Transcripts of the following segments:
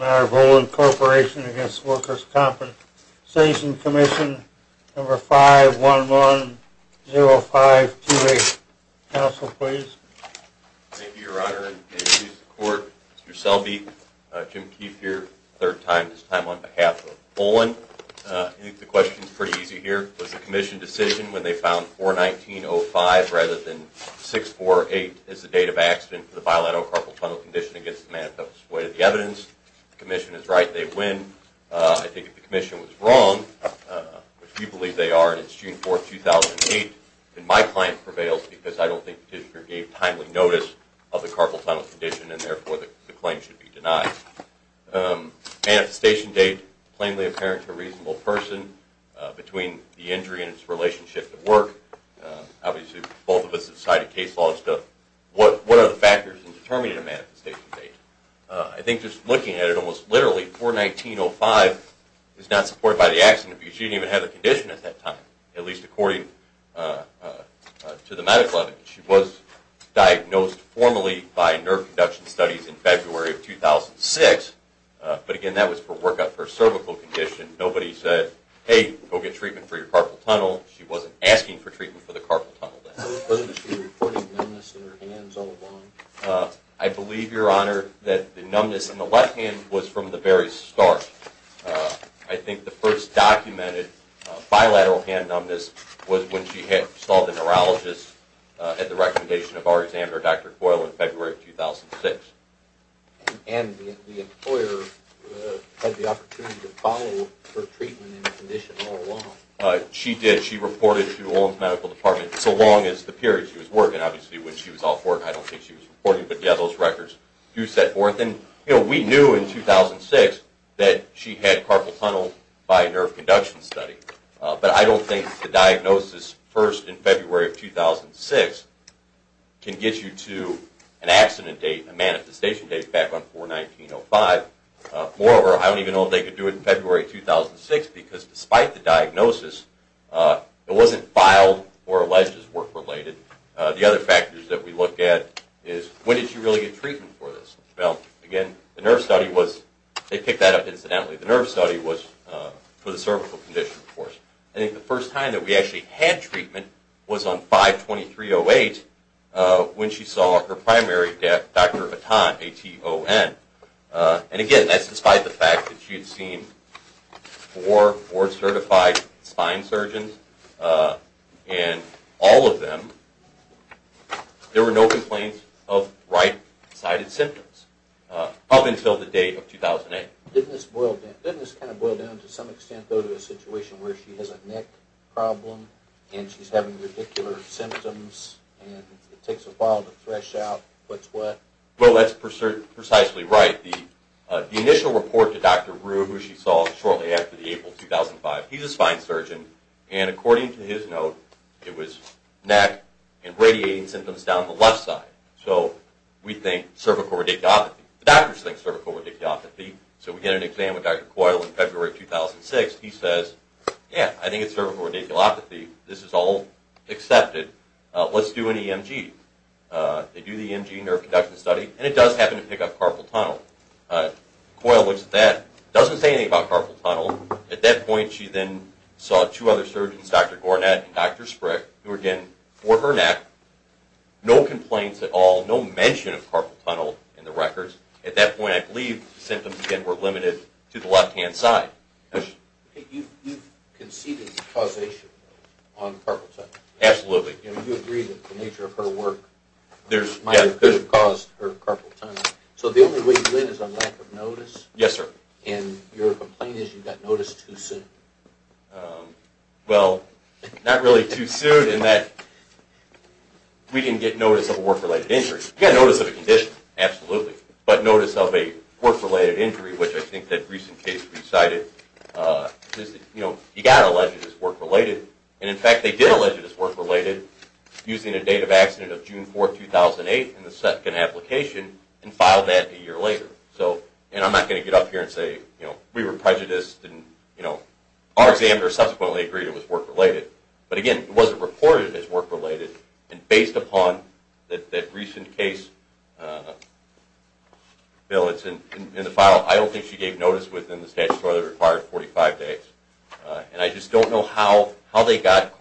5110528. Counsel, please. Thank you, Your Honor. And excuse the Court, Mr. Selby, Jim Keefe here, third time this time on behalf of Olin. I think the question is pretty easy here. Was the Commission decision when they found 419-05 rather than 648 as the date of the case, the manifestation date of the evidence? The Commission is right. They win. I think if the Commission was wrong, which we believe they are, and it's June 4, 2008, then my client prevails because I don't think the petitioner gave timely notice of the carpal tunnel condition and therefore the claim should be denied. Manifestation date plainly apparent to a reasonable person between the injury and its relationship to work. Obviously, both of us have cited case laws, but what are the factors in determining a manifestation date? I think just looking at it almost literally, 419-05 is not supported by the accident because she didn't even have a condition at that time, at least according to the medical evidence. She was diagnosed formally by nerve conduction studies in February of 2006, but again, that was for work up her cervical condition. Nobody said, hey, go get treatment for your carpal tunnel. She wasn't asking for treatment for the carpal tunnel. Was she reporting numbness in her hands all along? I believe, Your Honor, that the numbness in the left hand was from the very start. I think the first documented bilateral hand numbness was when she saw the neurologist at the recommendation of our examiner, Dr. Coyle, in February of 2006. And the employer had the opportunity to follow her treatment and condition all along. She did. She reported to Olin's medical department so long as the period she was working. Obviously, when she was off work, I don't think she was reporting, but yeah, those records do set forth. We knew in 2006 that she had carpal tunnel by nerve conduction study, but I don't think the diagnosis first in February of 2006 can get you to an accident date, a manifestation date back on 419-05. Moreover, I don't even know if they could do it in February 2006, because despite the diagnosis, it wasn't filed or alleged as work-related. The other factors that we look at is, when did she really get treatment for this? Well, again, the nerve study was, they picked that up incidentally, the nerve study was for the cervical condition, of course. I think the first time that we actually had treatment was on 5-2308 when she saw her primary doctor, Atan, A-T-O-N. And again, that's despite the fact that she had seen four board-certified spine surgeons, and all of them, there were no complaints of right-sided symptoms up until the date of 2008. Didn't this kind of boil down to some extent, though, to a situation where she has a neck problem, and she's having radicular symptoms, and it takes a while to thresh out what's what? Well, that's precisely right. The initial report to Dr. Rue, who she saw shortly after the April 2005, he's a spine surgeon, and according to his note, it was neck and radiating symptoms down the left side. So we think cervical radicopathy. The doctors think cervical radicopathy. So we get an exam with Dr. Coyle in February 2006. He says, yeah, I think it's cervical radicopathy. This is all accepted. Let's do an EMG. They do the EMG nerve conduction study, and it does happen to pick up carpal tunnel. Coyle looks at that, doesn't say anything about carpal tunnel. At that point, she then saw two other surgeons, Dr. Gornat and Dr. Sprick, who again, for her neck, no complaints at all, no mention of carpal tunnel in the records. At that point, I believe the symptoms were limited to the left-hand side. You've conceded causation on carpal tunnel? Absolutely. You agree that the nature of her work might have caused her carpal tunnel. So the only way you win is on lack of notice? Yes, sir. And your complaint is you got notice too soon? Well, not really too soon in that we didn't get notice of a work-related injury. We got notice of a condition, absolutely. But notice of a work-related injury, which I think that recent case recited, you know, you got alleged as work-related. And in fact, they did allege it as work-related using a date of accident of June 4, 2008 in the second application and filed that a year later. So, and I'm not going to get up here and say, you know, we were prejudiced and, you know, our examiner subsequently agreed it was work-related. But again, it wasn't reported as work-related. And based upon that recent case, Bill, it's in the file, I don't think she gave notice within the statutory that required 45 days. And I just don't know how they got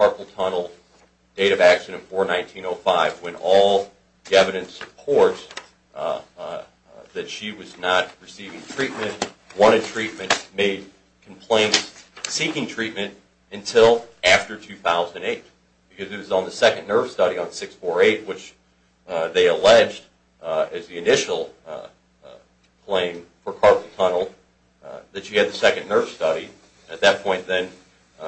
date of accident of 4-19-05 when all the evidence supports that she was not receiving treatment, wanted treatment, made complaints, seeking treatment until after 2008. Because it was on the second nerve study on 6-4-8, which they alleged as the initial claim for carpal tunnel that she had the second nerve study. At that point then,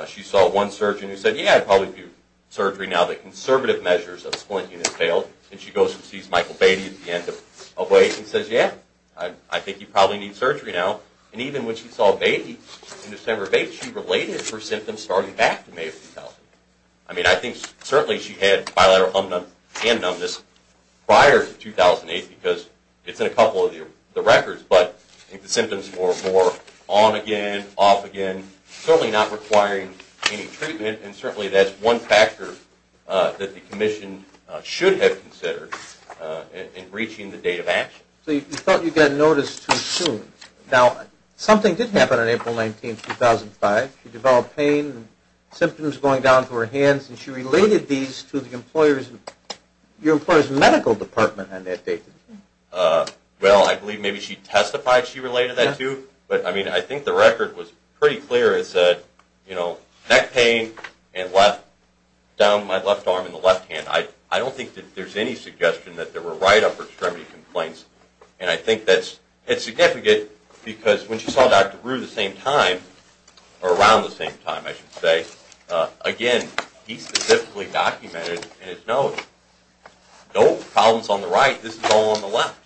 she saw one surgeon who said, yeah, I'd probably do surgery now, but conservative measures of splinting had failed. And she goes and sees Michael Beatty at the end of a wait and says, yeah, I think you probably need surgery now. And even when she saw Beatty in December 8, she related her symptoms starting back in May of 2000. I mean, I think certainly she had bilateral numbness and numbness prior to 2008 because it's in a couple of the records. But I think symptoms were more on again, off again, certainly not requiring any treatment. And certainly that's one factor that the commission should have considered in reaching the date of action. So you felt you got notice too soon. Now, something did happen on April 19, 2005. She developed pain, symptoms going down to her hands, and she related these to the employer's medical department on that date. Well, I believe maybe she testified she related that too. But I mean, I think the record was pretty clear. It said, you know, neck pain and down my left arm and the left hand. I don't think that there's any suggestion that there were right upper extremity complaints. And I think that's significant because when she saw Dr. Brewer the same time, or around the same time, I should say, again, he specifically documented in his notes, no problems on the right, this is all on the left.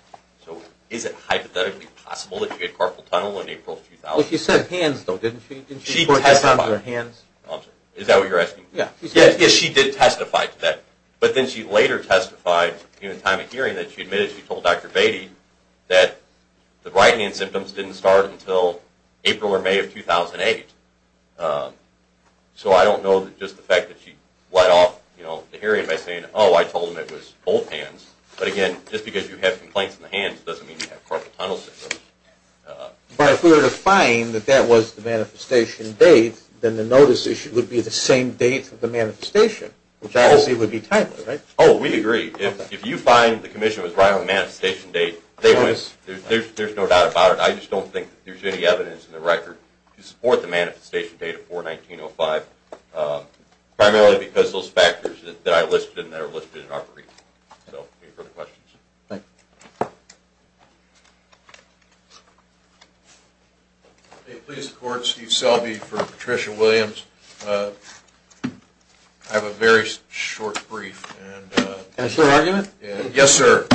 So is it hypothetically possible that she had carpal tunnel in April 2000? Well, she said hands though, didn't she? She testified. Didn't she report this on her hands? Oh, I'm sorry. Is that what you're asking? Yeah. Yes, she did testify to that. But then she later testified at the time of hearing that she admitted she told Dr. Beatty that the right hand symptoms didn't start until April or May of 2008. So I don't know just the fact that she let off the hearing by saying, oh, I told him it was both hands. But again, just because you have complaints in the hands doesn't mean you have carpal tunnel symptoms. But if we were to find that that was the manifestation date, then the notice issue would be the same date of the manifestation, which obviously would be timely, right? Oh, we agree. If you find the commission was right on the manifestation date, there's no doubt about it. I just don't think there's any evidence in the record to support the manifestation date of 4-19-05, primarily because those factors that I listed and that are listed in our brief. So, any further questions? Thank you. May it please the Court, Steve Selby for Patricia Williams. I have a very short brief. And it's your argument? Yes, sir.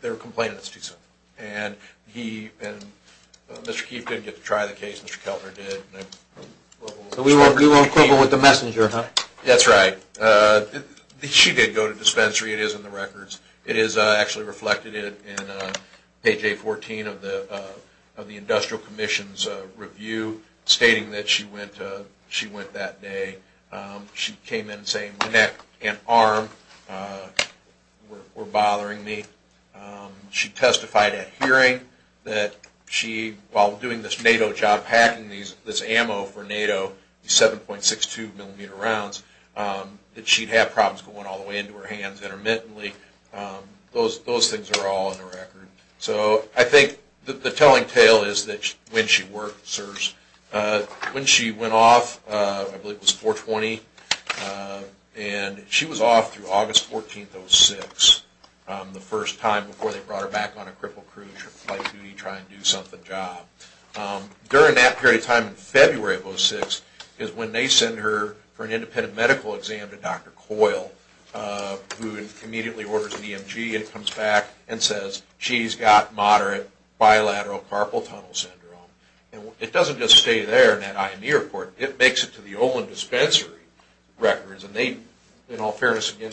They're complaining it's too soon. And Mr. Keefe didn't get to try the case, Mr. Keltner did. So we were equivalent with the messenger, huh? That's right. She did go to dispensary, it is in the records. It is actually reflected in page A-14 of the Industrial Commission's review stating that she went that day. She came in saying her neck and arm were bothering me. She testified at hearing that she, while doing this NATO job, packing this ammo for NATO, 7.62 millimeter rounds, that she'd have problems going all the way into her hands intermittently. Those things are all in the record. So, I think the telling tale is that when she went off, I believe it was 4-20, and she was off through August 14th, 06, the first time before they brought her back on a cripple crew flight duty trying to do something job. During that period of time in February of 06, is when they send her for an independent medical exam to Dr. Coyle, who immediately orders an EMG and comes back and says she's got moderate bilateral carpal tunnel syndrome. It doesn't just stay there in that IME report. It makes it to the Olin dispensary records, and they, in all fairness, again,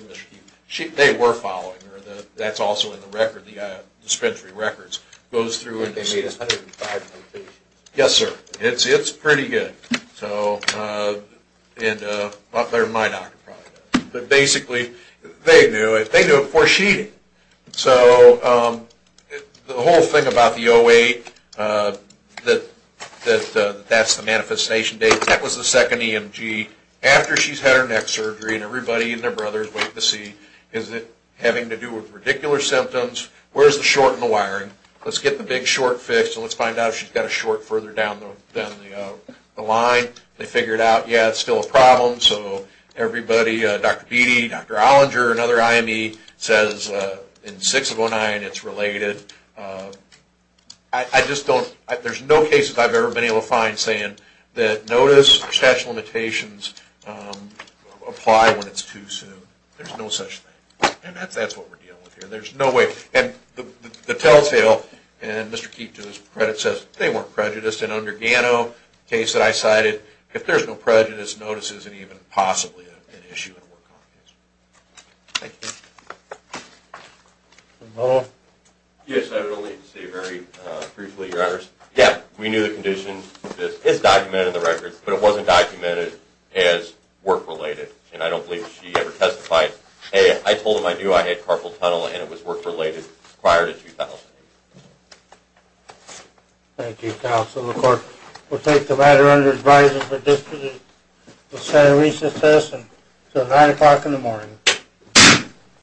they were following her. That's also in the record, the dispensary records. And they made it 105.3? Yes, sir. It's pretty good. But basically, they knew it. They knew it before she did. So, the whole thing about the 08, that that's the manifestation date. That was the second EMG. After she's had her neck surgery, and everybody and their brothers wait to see, is it having to do with radicular symptoms? Where's the short in the wiring? Let's get the big short fixed, and let's find out if she's got a short further down the line. They figured out, yeah, it's still a problem. So, everybody, Dr. Beattie, Dr. Olinger, and other IME says in 6 of 09, it's related. I just don't, there's no cases I've ever been able to find saying that notice or statute of limitations apply when it's too soon. There's no such thing. And that's what we're dealing with here. There's no way. And the tell-tale, and Mr. Keefe, to his credit, says they weren't prejudiced. And under Gano, the case that I cited, if there's no prejudice, notice isn't even possibly an issue. Thank you. Yes, I would only say very briefly, Your Honors. Yeah, we knew the condition is documented in the records, but it wasn't documented as work-related. And I don't believe she ever testified. I told them I knew I had carpal tunnel, and it was work-related prior to 2008. Thank you, Counsel. The Court will take the matter under advisory for disposition. We'll say recess until 9 o'clock in the morning.